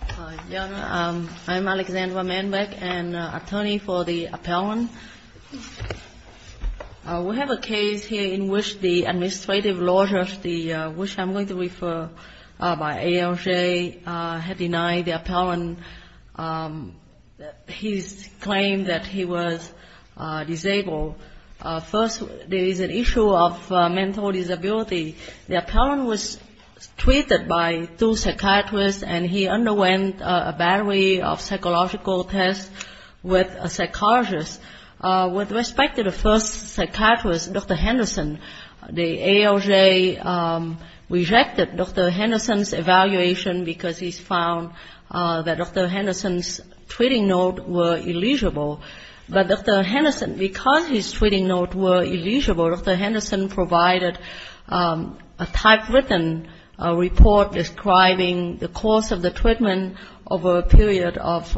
I'm Alexandra Manbeck, an attorney for the appellant. We have a case here in which the administrative law judge, which I'm going to refer by ALJ, had denied the appellant his claim that he was disabled. First, there is an issue of mental disability. The appellant was treated by two psychiatrists, and he underwent a battery of psychological tests with a psychologist. With respect to the first psychiatrist, Dr. Henderson, the ALJ rejected Dr. Henderson's evaluation because he found that Dr. Henderson's treating notes were illegible. But Dr. Henderson, because his treating notes were illegible, Dr. Henderson provided a typewritten report describing the course of the treatment over a period of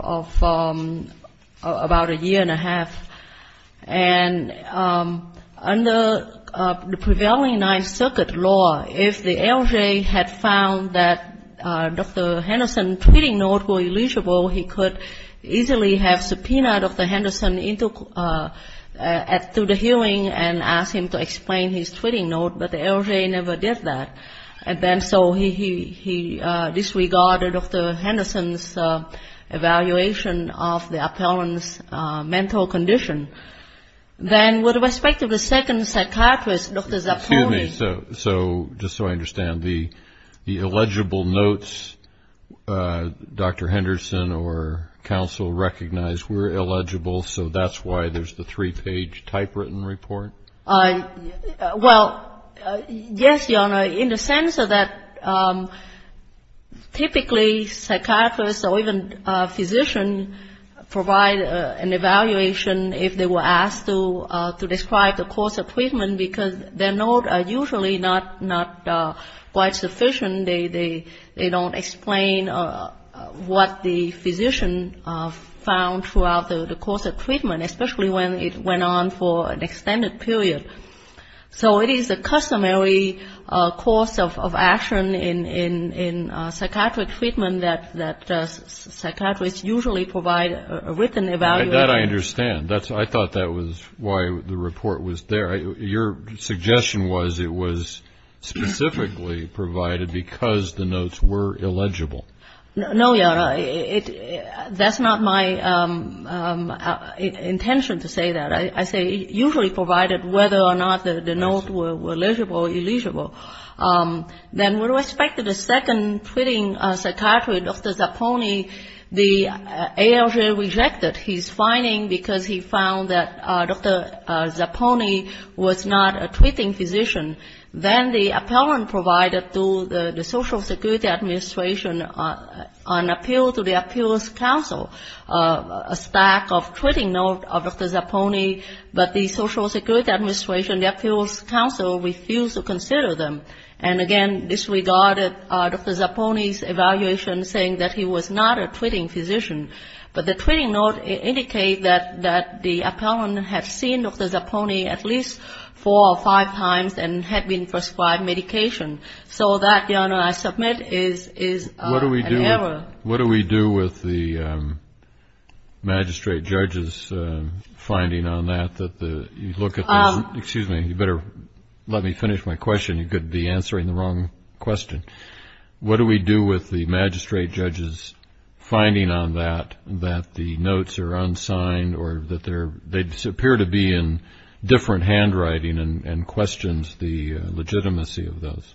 about a year and a half. And under the prevailing Ninth Circuit law, if the ALJ had found that Dr. Henderson's treating notes were illegible, he could easily have subpoenaed Dr. Henderson to the hearing and asked him to explain his treating notes, but the ALJ never did that. And then so he disregarded Dr. Henderson's evaluation of the appellant's mental condition. Then with respect to the second psychiatrist, Dr. Zappoli... Excuse me. So just so I understand, the illegible notes Dr. Henderson or counsel recognized were illegible, so that's why there's the three-page typewritten report? Well, yes, Your Honor, in the sense that typically psychiatrists or even physicians provide an evaluation if they were asked to describe the course of treatment because their notes are usually not quite sufficient. They don't explain what the physician found throughout the course of treatment, especially when it went on for an extended period. So it is a customary course of action in psychiatric treatment that psychiatrists usually provide a written evaluation. That I understand. I thought that was why the report was there. Your suggestion was it was specifically provided because the notes were illegible. No, Your Honor. That's not my intention to say that. I say usually provided whether or not the notes were legible or illegible. Then with respect to the second treating psychiatrist, Dr. Zappoli, the ALJ rejected his finding because he found that Dr. Zappoli was not a treating physician. Then the appellant provided to the Social Security Administration an appeal to the Appeals Council, a stack of treating notes of Dr. Zappoli, but the Social Security Administration, the Appeals Council refused to consider them and, again, disregarded Dr. Zappoli's evaluation saying that he was not a treating physician. But the treating notes indicate that the appellant had seen Dr. Zappoli at least four or five times and had been prescribed medication. So that, Your Honor, I submit is an error. What do we do with the magistrate judge's finding on that? Excuse me. You better let me finish my question. You could be answering the wrong question. What do we do with the magistrate judge's finding on that, that the notes are unsigned or that they appear to be in different handwriting and questions the legitimacy of those?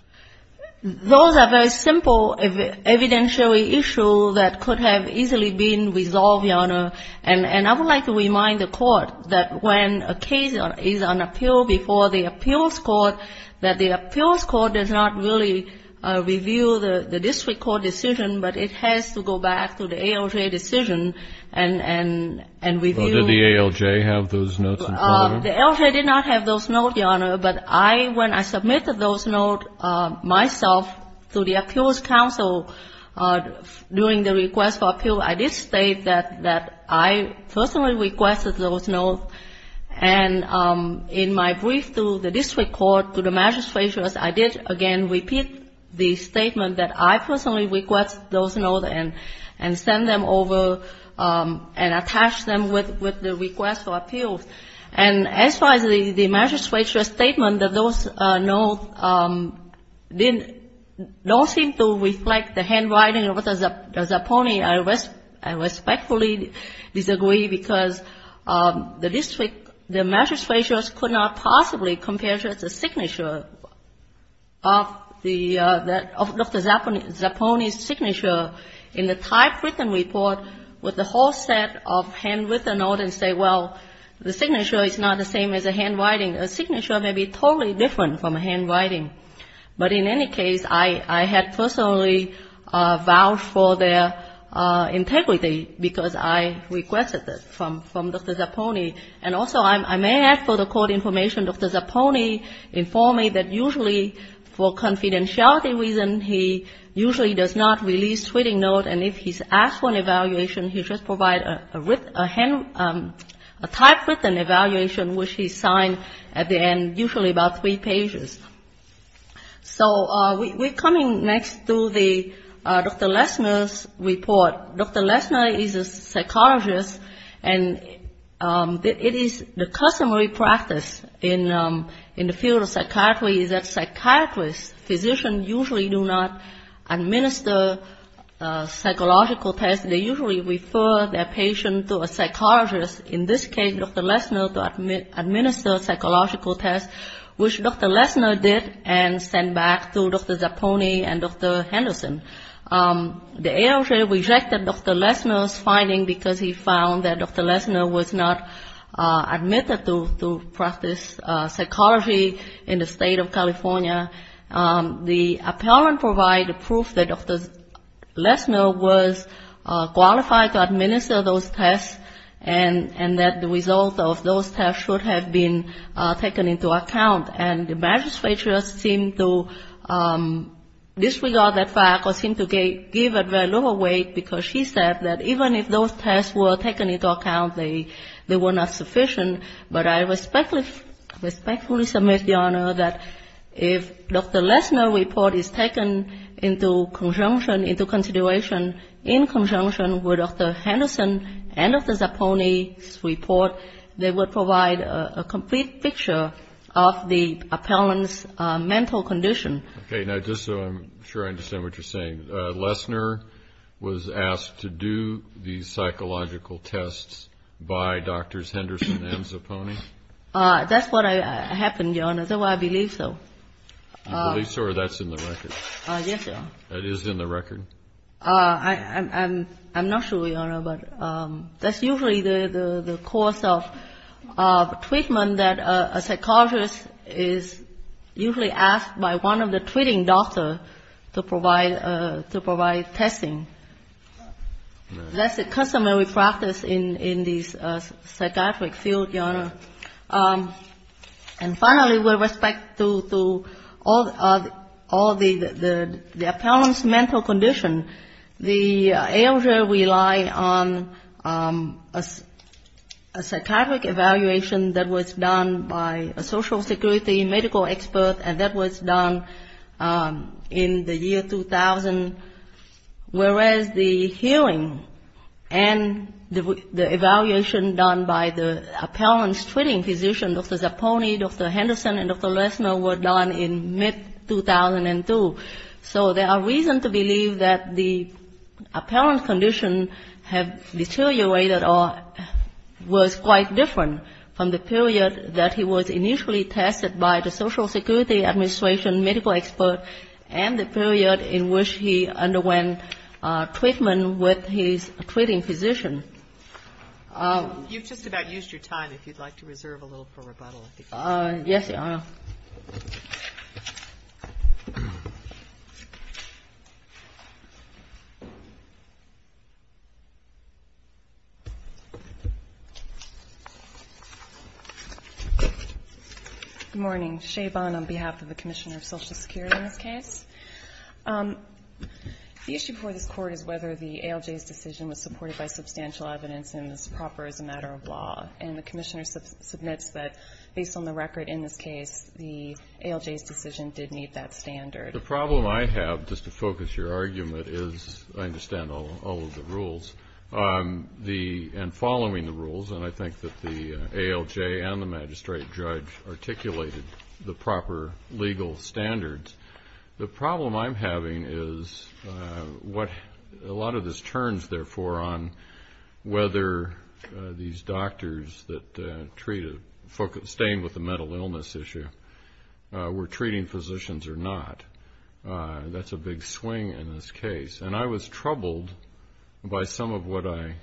Those are very simple evidentiary issues that could have easily been resolved, Your Honor. And I would like to remind the Court that when a case is on appeal before the appeals court, that the appeals court does not really review the district court decision, but it has to go back to the ALJ decision and review. Well, did the ALJ have those notes in front of them? The ALJ did not have those notes, Your Honor. But I, when I submitted those notes myself to the Appeals Council during the request for appeal, I did state that I personally requested those notes. And in my brief to the district court, to the magistrate judge, I did again repeat the statement that I personally requested those notes and sent them over and attached them with the request for appeals. And as far as the magistrate judge's statement that those notes didn't, don't seem to reflect the handwriting of the Zapponi, I respectfully disagree because the district, the magistrate judge could not possibly compare just the signature of the, of Dr. Zapponi's signature in the typewritten report with the whole set of handwritten notes and say, well, the signature is not the same as the handwriting. The signature may be totally different from the handwriting. But in any case, I had personally vowed for their integrity because I requested it from Dr. Zapponi. And also, I may add for the court information, Dr. Zapponi informed me that usually for confidentiality reasons, he usually does not release tweeting notes, and if he's asked for an evaluation, he should provide a hand, a typewritten evaluation which he signed at the end, usually about three pages. So we're coming next to the, Dr. Lesner's report. Dr. Lesner is a psychologist, and it is the customary practice in, in the field of psychiatry is that psychiatrists, physicians usually do not administer psychological tests, they usually refer their patient to a psychologist, in this case Dr. Lesner, to administer psychological tests, which Dr. Lesner did and sent back to Dr. Zapponi and Dr. Henderson. The ALJ rejected Dr. Lesner's finding because he found that Dr. Lesner was not qualified to administer those tests, and that the result of those tests should have been taken into account. And the magistrate just seemed to disregard that fact or seemed to give it very little weight, because she said that even if those tests were taken into account, they were not sufficient. But I respectfully submit, Your Honor, that if Dr. Lesner's report is taken into conjunction, into consideration, in conjunction with Dr. Henderson and Dr. Zapponi's report, they would provide a complete picture of the appellant's mental condition. Okay. Now, just so I'm sure I understand what you're saying, Lesner was asked to do the psychological tests by Drs. Henderson and Zapponi? That's what happened, Your Honor. That's why I believe so. You believe so, or that's in the record? Yes, Your Honor. That is in the record? I'm not sure, Your Honor, but that's usually the course of treatment that a psychologist is usually asked by one of the treating doctors to provide, to provide testing. That's a customary practice in these psychiatric fields, Your Honor. And finally, with respect to all the appellant's mental condition, I believe that Dr. Lesner's report is in conjunction. The ALJ relied on a psychiatric evaluation that was done by a social security medical expert, and that was done in the year 2000, whereas the hearing and the evaluation done by the appellant's treating physician, Dr. Zapponi, Dr. Henderson and Dr. Lesner, were done in mid-2002. And I believe that the appellant's condition had deteriorated or was quite different from the period that he was initially tested by the social security administration medical expert and the period in which he underwent treatment with his treating physician. You've just about used your time. If you'd like to reserve a little for rebuttal. Good morning. Shabon on behalf of the Commissioner of Social Security in this case. The issue before this Court is whether the ALJ's decision was supported by substantial evidence and is proper as a matter of law. And the Commissioner submits that, based on the record in this case, the ALJ's decision did meet that standard. The problem I have, just to focus your argument, is I understand all of the rules, and following the rules, and I think that the ALJ and the magistrate judge articulated the proper legal standards. The problem I'm having is what a lot of this turns, therefore, on whether these doctors that treat, staying with the mental illness issue, were treating physicians or not. That's a big swing in this case. And I was troubled by some of what I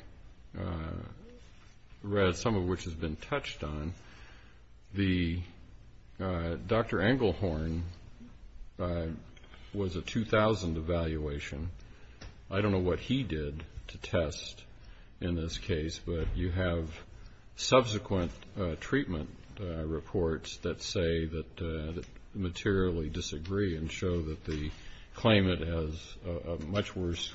read, some of which has been touched on. Dr. Englehorn was a 2000 evaluation. I don't know what he did to test in this case, but you have subsequent treatment reports that say that materially disagree and show that the claimant has a much worse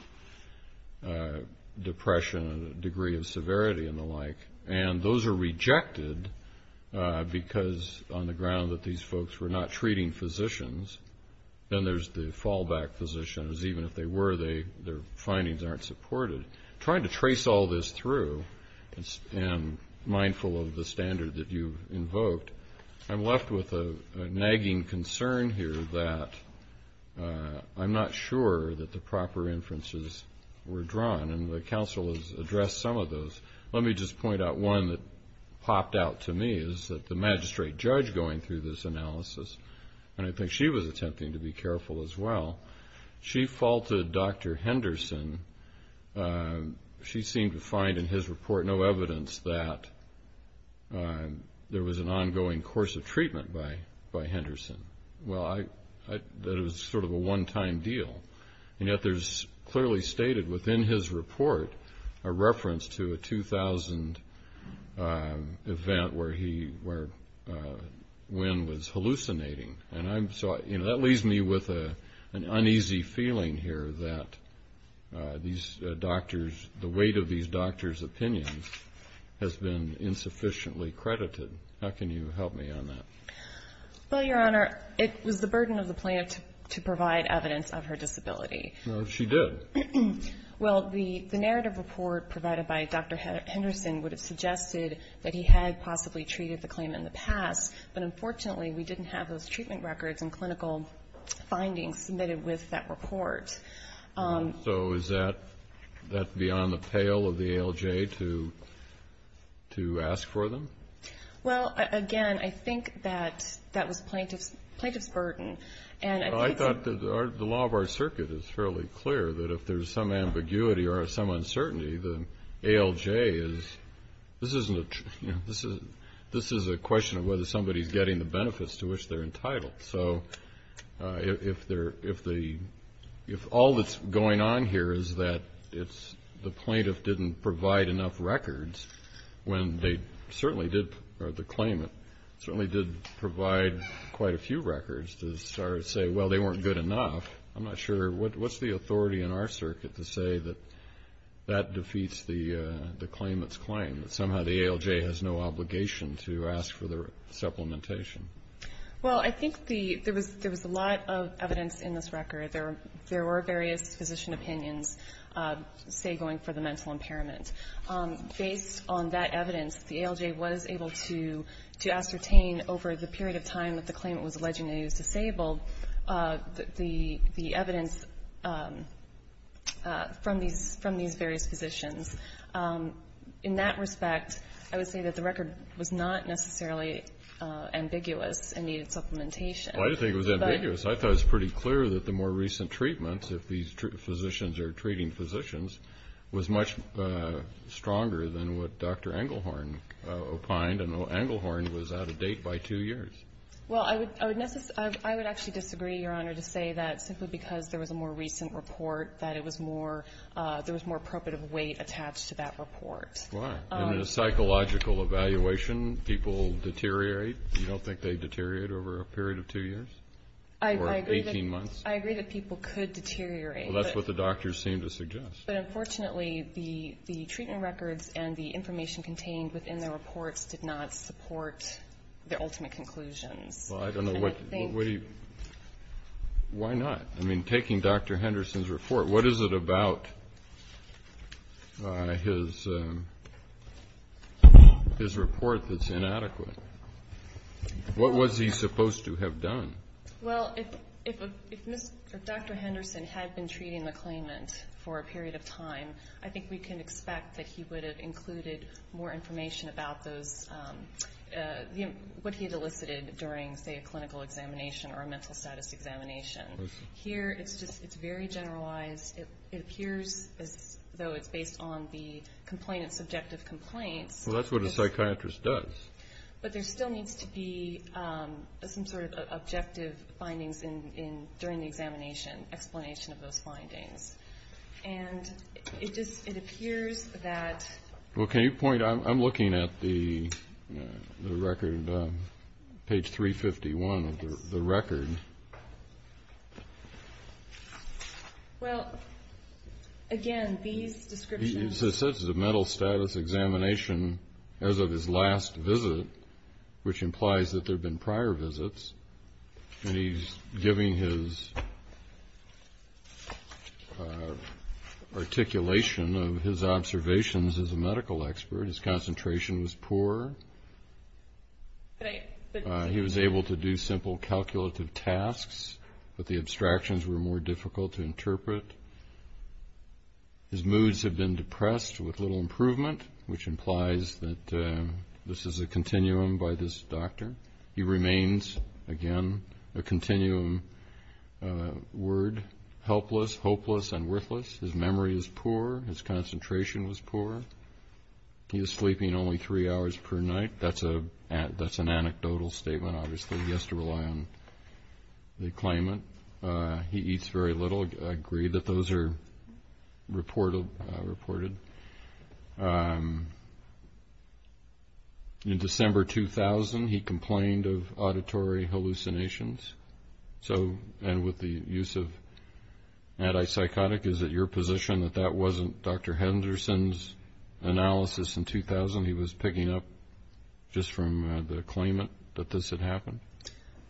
depression and a degree of severity and the like. And those are rejected, because on the ground that these folks were not treating physicians, then there's the fallback physicians. Even if they were, their findings aren't supported. Trying to trace all this through, and mindful of the standard that you invoked, I'm left with a nagging concern here that I'm not sure that the proper inferences were drawn, and the counsel has addressed some of those. Let me just point out one that popped out to me, is that the magistrate judge going through this analysis, and I think she was attempting to be careful as well, she faulted Dr. Henderson. She seemed to find in his report no evidence that there was an ongoing course of treatment by Henderson. That it was sort of a one-time deal. And yet there's clearly stated within his report a reference to a 2000 event where Wynn was hallucinating. And that leaves me with an uneasy feeling here that these doctors, the weight of these doctors' opinions has been insufficiently credited. How can you help me on that? Well, Your Honor, it was the burden of the plaintiff to provide evidence of her disability. No, she did. Well, the narrative report provided by Dr. Henderson would have suggested that he had possibly treated the claimant in the past, but unfortunately we didn't have those treatment records and clinical findings submitted with that report. So is that beyond the pale of the ALJ to ask for them? Well, again, I think that that was plaintiff's burden. Well, I thought the law of our circuit is fairly clear that if there's some ambiguity or some uncertainty, then ALJ is, this is a question of whether somebody's getting the benefits to which they're entitled. So if all that's going on here is that it's the plaintiff didn't provide enough records when they certainly did, or the claimant certainly did provide quite a few records to say, well, they weren't good enough. I'm not sure, what's the authority in our circuit to say that that defeats the claimant's claim, that somehow the ALJ has no obligation to ask for the supplementation? Well, I think there was a lot of evidence in this record. There were various physician opinions, say, going for the mental impairment. Based on that evidence, the ALJ was able to ascertain over the period of time that the claimant was alleged to be disabled, the evidence from these various physicians. In that respect, I would say that the record was not necessarily ambiguous and needed supplementation. Well, I didn't think it was ambiguous. I thought it was pretty clear that the more recent treatments, if these physicians are treating physicians, was much stronger than what Dr. Englehorn opined, and Englehorn was out of date by two years. Well, I would actually disagree, Your Honor, to say that simply because there was a more recent report, that it was more, there was more probative weight attached to that report. Why? In a psychological evaluation, people deteriorate? You don't think they deteriorate over a period of two years or 18 months? I agree that people could deteriorate. Well, that's what the doctors seem to suggest. But unfortunately, the treatment records and the information contained within the reports did not support the ultimate conclusions. Well, I don't know what you, why not? I mean, taking Dr. Henderson's report, what is it about his report that's inadequate? What was he supposed to have done? Well, if Dr. Henderson had been treating the claimant for a period of time, I think we can expect that he would have included more information about those, what he had elicited during, say, a clinical examination or a mental status examination. Here, it's just, it's very generalized. It appears as though it's based on the complainant's subjective complaints. Well, that's what a psychiatrist does. But there still needs to be some sort of objective findings during the examination, explanation of those findings. And it just, it appears that... Well, can you point, I'm looking at the record, page 351 of the record. Well, again, these descriptions... It says it's a mental status examination as of his last visit, which implies that there have been prior visits. And he's giving his articulation of his observations as a medical expert. His concentration was poor. He was able to do simple calculative tasks, but the abstractions were more difficult to interpret. His moods have been depressed with little improvement, which implies that this is a continuum by this doctor. He remains, again, a continuum word, helpless, hopeless, and worthless. His memory is poor. His concentration was poor. He is sleeping only three hours per night. That's an anecdotal statement, obviously. He has to rely on the claimant. He eats very little. I agree that those are reported. In December 2000, he complained of auditory hallucinations. So, and with the use of antipsychotic, is it your position that that wasn't Dr. Henderson's analysis in 2000? He was picking up just from the claimant that this had happened?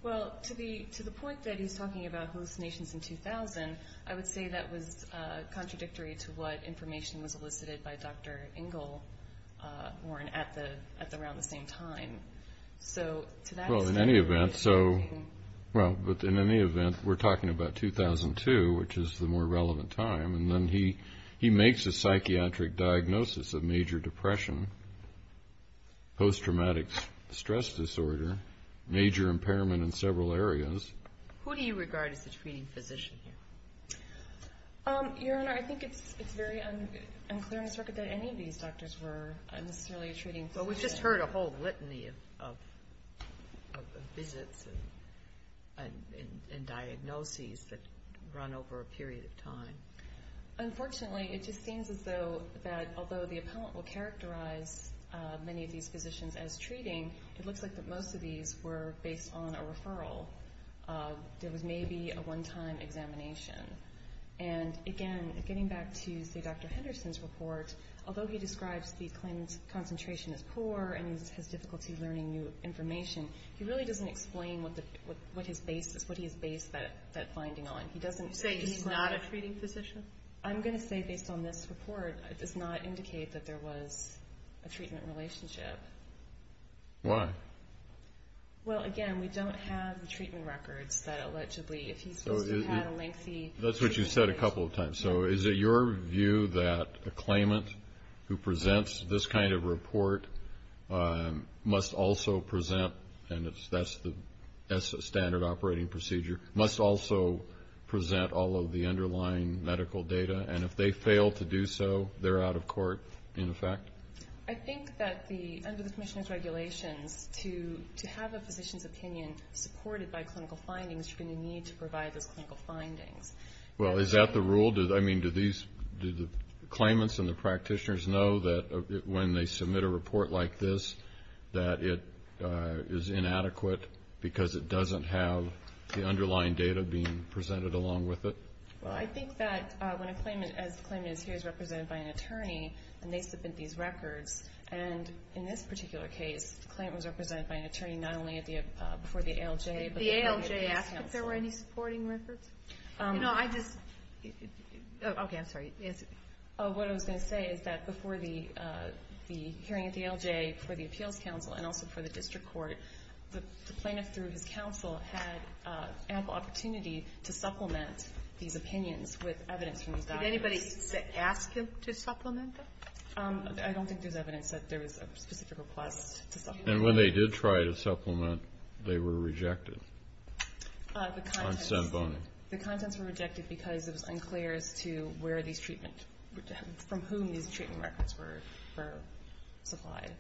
Well, to the point that he's talking about hallucinations in 2000, I would say that was contradictory to what information was elicited by Dr. Engelborn at around the same time. Well, in any event, we're talking about 2002, which is the more relevant time, and then he makes a psychiatric diagnosis of major depression, post-traumatic stress disorder, major impairment in several areas. Who do you regard as the treating physician here? Your Honor, I think it's very unclear on this record that any of these doctors were necessarily a treating physician. But we've just heard a whole litany of visits and diagnoses that run over a period of time. Unfortunately, it just seems as though that although the appellant will characterize many of these physicians as treating, it looks like that most of these were based on a referral. There was maybe a one-time examination. And again, getting back to, say, Dr. Henderson's report, although he describes the claimant's concentration as poor and his difficulty learning new information, he really doesn't explain what he has based that finding on. I'm going to say, based on this report, it does not indicate that there was a treatment relationship. Why? Well, again, we don't have the treatment records that allegedly, if he's supposed to have a lengthy treatment relationship. That's what you said a couple of times. So is it your view that a claimant who presents this kind of report must also present, and that's the standard operating procedure, must also present all of the underlying medical data? And if they fail to do so, they're out of court, in effect? I think that under the commissioner's regulations, to have a physician's opinion supported by clinical findings, you're going to need to provide those clinical findings. Well, is that the rule? I mean, do the claimants and the practitioners know that when they submit a report like this, that it is inadequate because it doesn't have the underlying data being presented along with it? Well, I think that when a claimant, as the claimant is here, is represented by an attorney, and they submit these records, and in this particular case, the claimant was represented by an attorney, not only before the ALJ, but the ALJ counsel. The ALJ asked if there were any supporting records? You know, I just — okay, I'm sorry. What I was going to say is that before the hearing at the ALJ for the appeals counsel and also for the district court, the plaintiff, through his counsel, had ample opportunity to supplement these opinions with evidence from these doctors. Did anybody ask him to supplement them? I don't think there's evidence that there was a specific request to supplement them. And when they did try to supplement, they were rejected? The contents were rejected because it was unclear as to where these treatment — from whom these treatment records were supplied.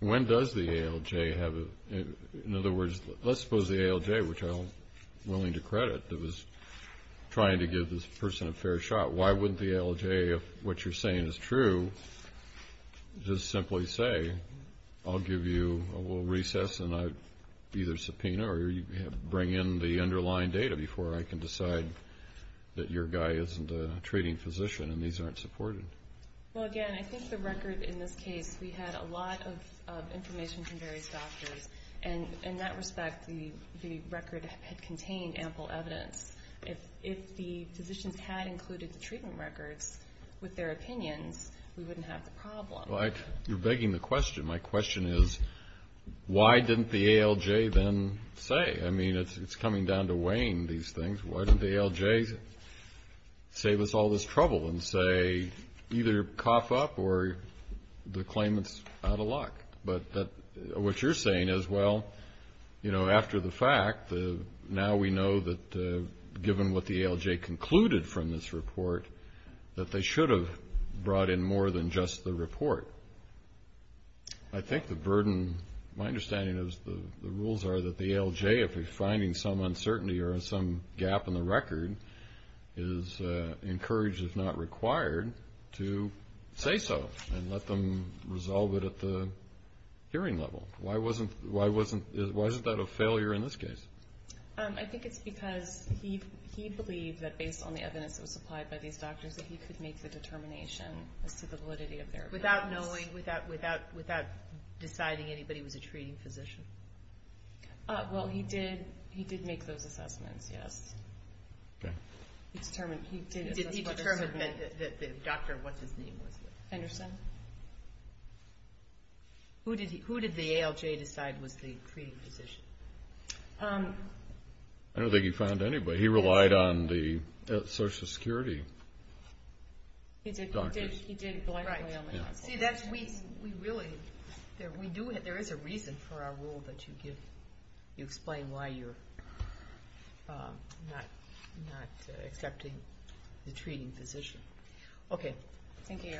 When does the ALJ have a — in other words, let's suppose the ALJ, which I'm willing to credit, that was trying to give this person a fair shot, why wouldn't the ALJ, if what you're saying is true, just simply say, I'll give you a little recess and I'll either subpoena or bring in the underlying data before I can decide that your guy isn't a treating physician and these aren't supported? Well, again, I think the record in this case, we had a lot of information from various doctors, and in that respect the record had contained ample evidence. If the physicians had included the treatment records with their opinions, we wouldn't have the problem. You're begging the question. My question is, why didn't the ALJ then say? I mean, it's coming down to weighing these things. Why didn't the ALJ save us all this trouble and say either cough up or the claimant's out of luck? But what you're saying is, well, you know, after the fact, now we know that given what the ALJ concluded from this report, that they should have brought in more than just the report. I think the burden, my understanding is the rules are that the ALJ, if they're finding some uncertainty or some gap in the record, is encouraged, if not required, to say so and let them resolve it at the hearing level. Why wasn't that a failure in this case? I think it's because he believed that based on the evidence that was supplied by these doctors that he could make the determination as to the validity of their evidence. Without knowing, without deciding anybody was a treating physician? Well, he did make those assessments, yes. He determined that the doctor, what his name was. Who did the ALJ decide was the treating physician? I don't think he found anybody. He relied on the Social Security doctors. Right. There is a reason for our rule that you give. You explain why you're not accepting the treating physician. Okay. Thank you.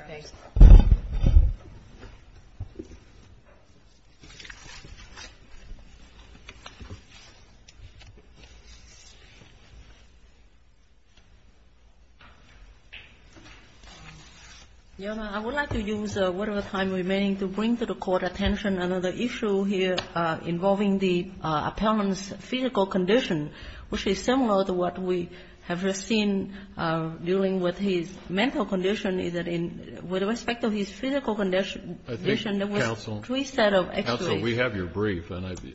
I would like to use whatever time remaining to bring to the Court attention another issue here involving the appellant's physical condition, which is similar to what we have seen dealing with his mental condition, is that with respect to his physical condition, there was three sets of x-rays. Counsel, we have your brief. Let me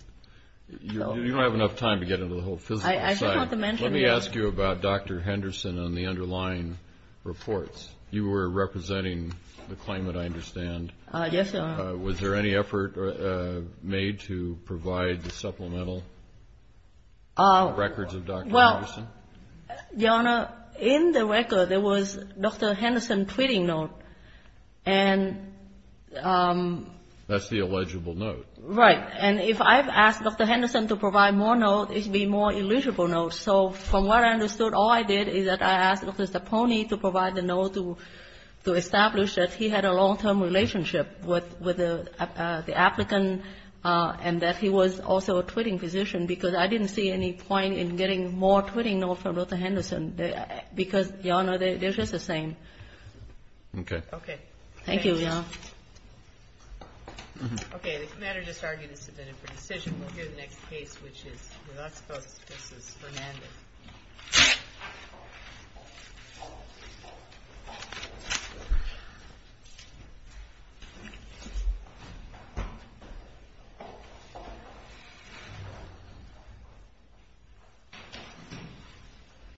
ask you about Dr. Henderson and the underlying reports. You were representing the claimant, I understand. Yes, Your Honor. Was there any effort made to provide the supplemental records of Dr. Henderson? Well, Your Honor, in the record, there was Dr. Henderson's treating note. And that's the illegible note. Right. And if I've asked Dr. Henderson to provide more notes, it would be more illegible notes. So from what I understood, all I did is that I asked Mr. Pony to provide the note to establish that he had a long-term relationship with the applicant and that he was also a treating physician, because I didn't see any point in getting more treating notes from Dr. Henderson, because, Your Honor, they're just the same. Okay. Okay. Thank you, Your Honor. Okay. The matter just argued is submitted for decision. We'll hear the next case, which is with us, Justice Fernandez.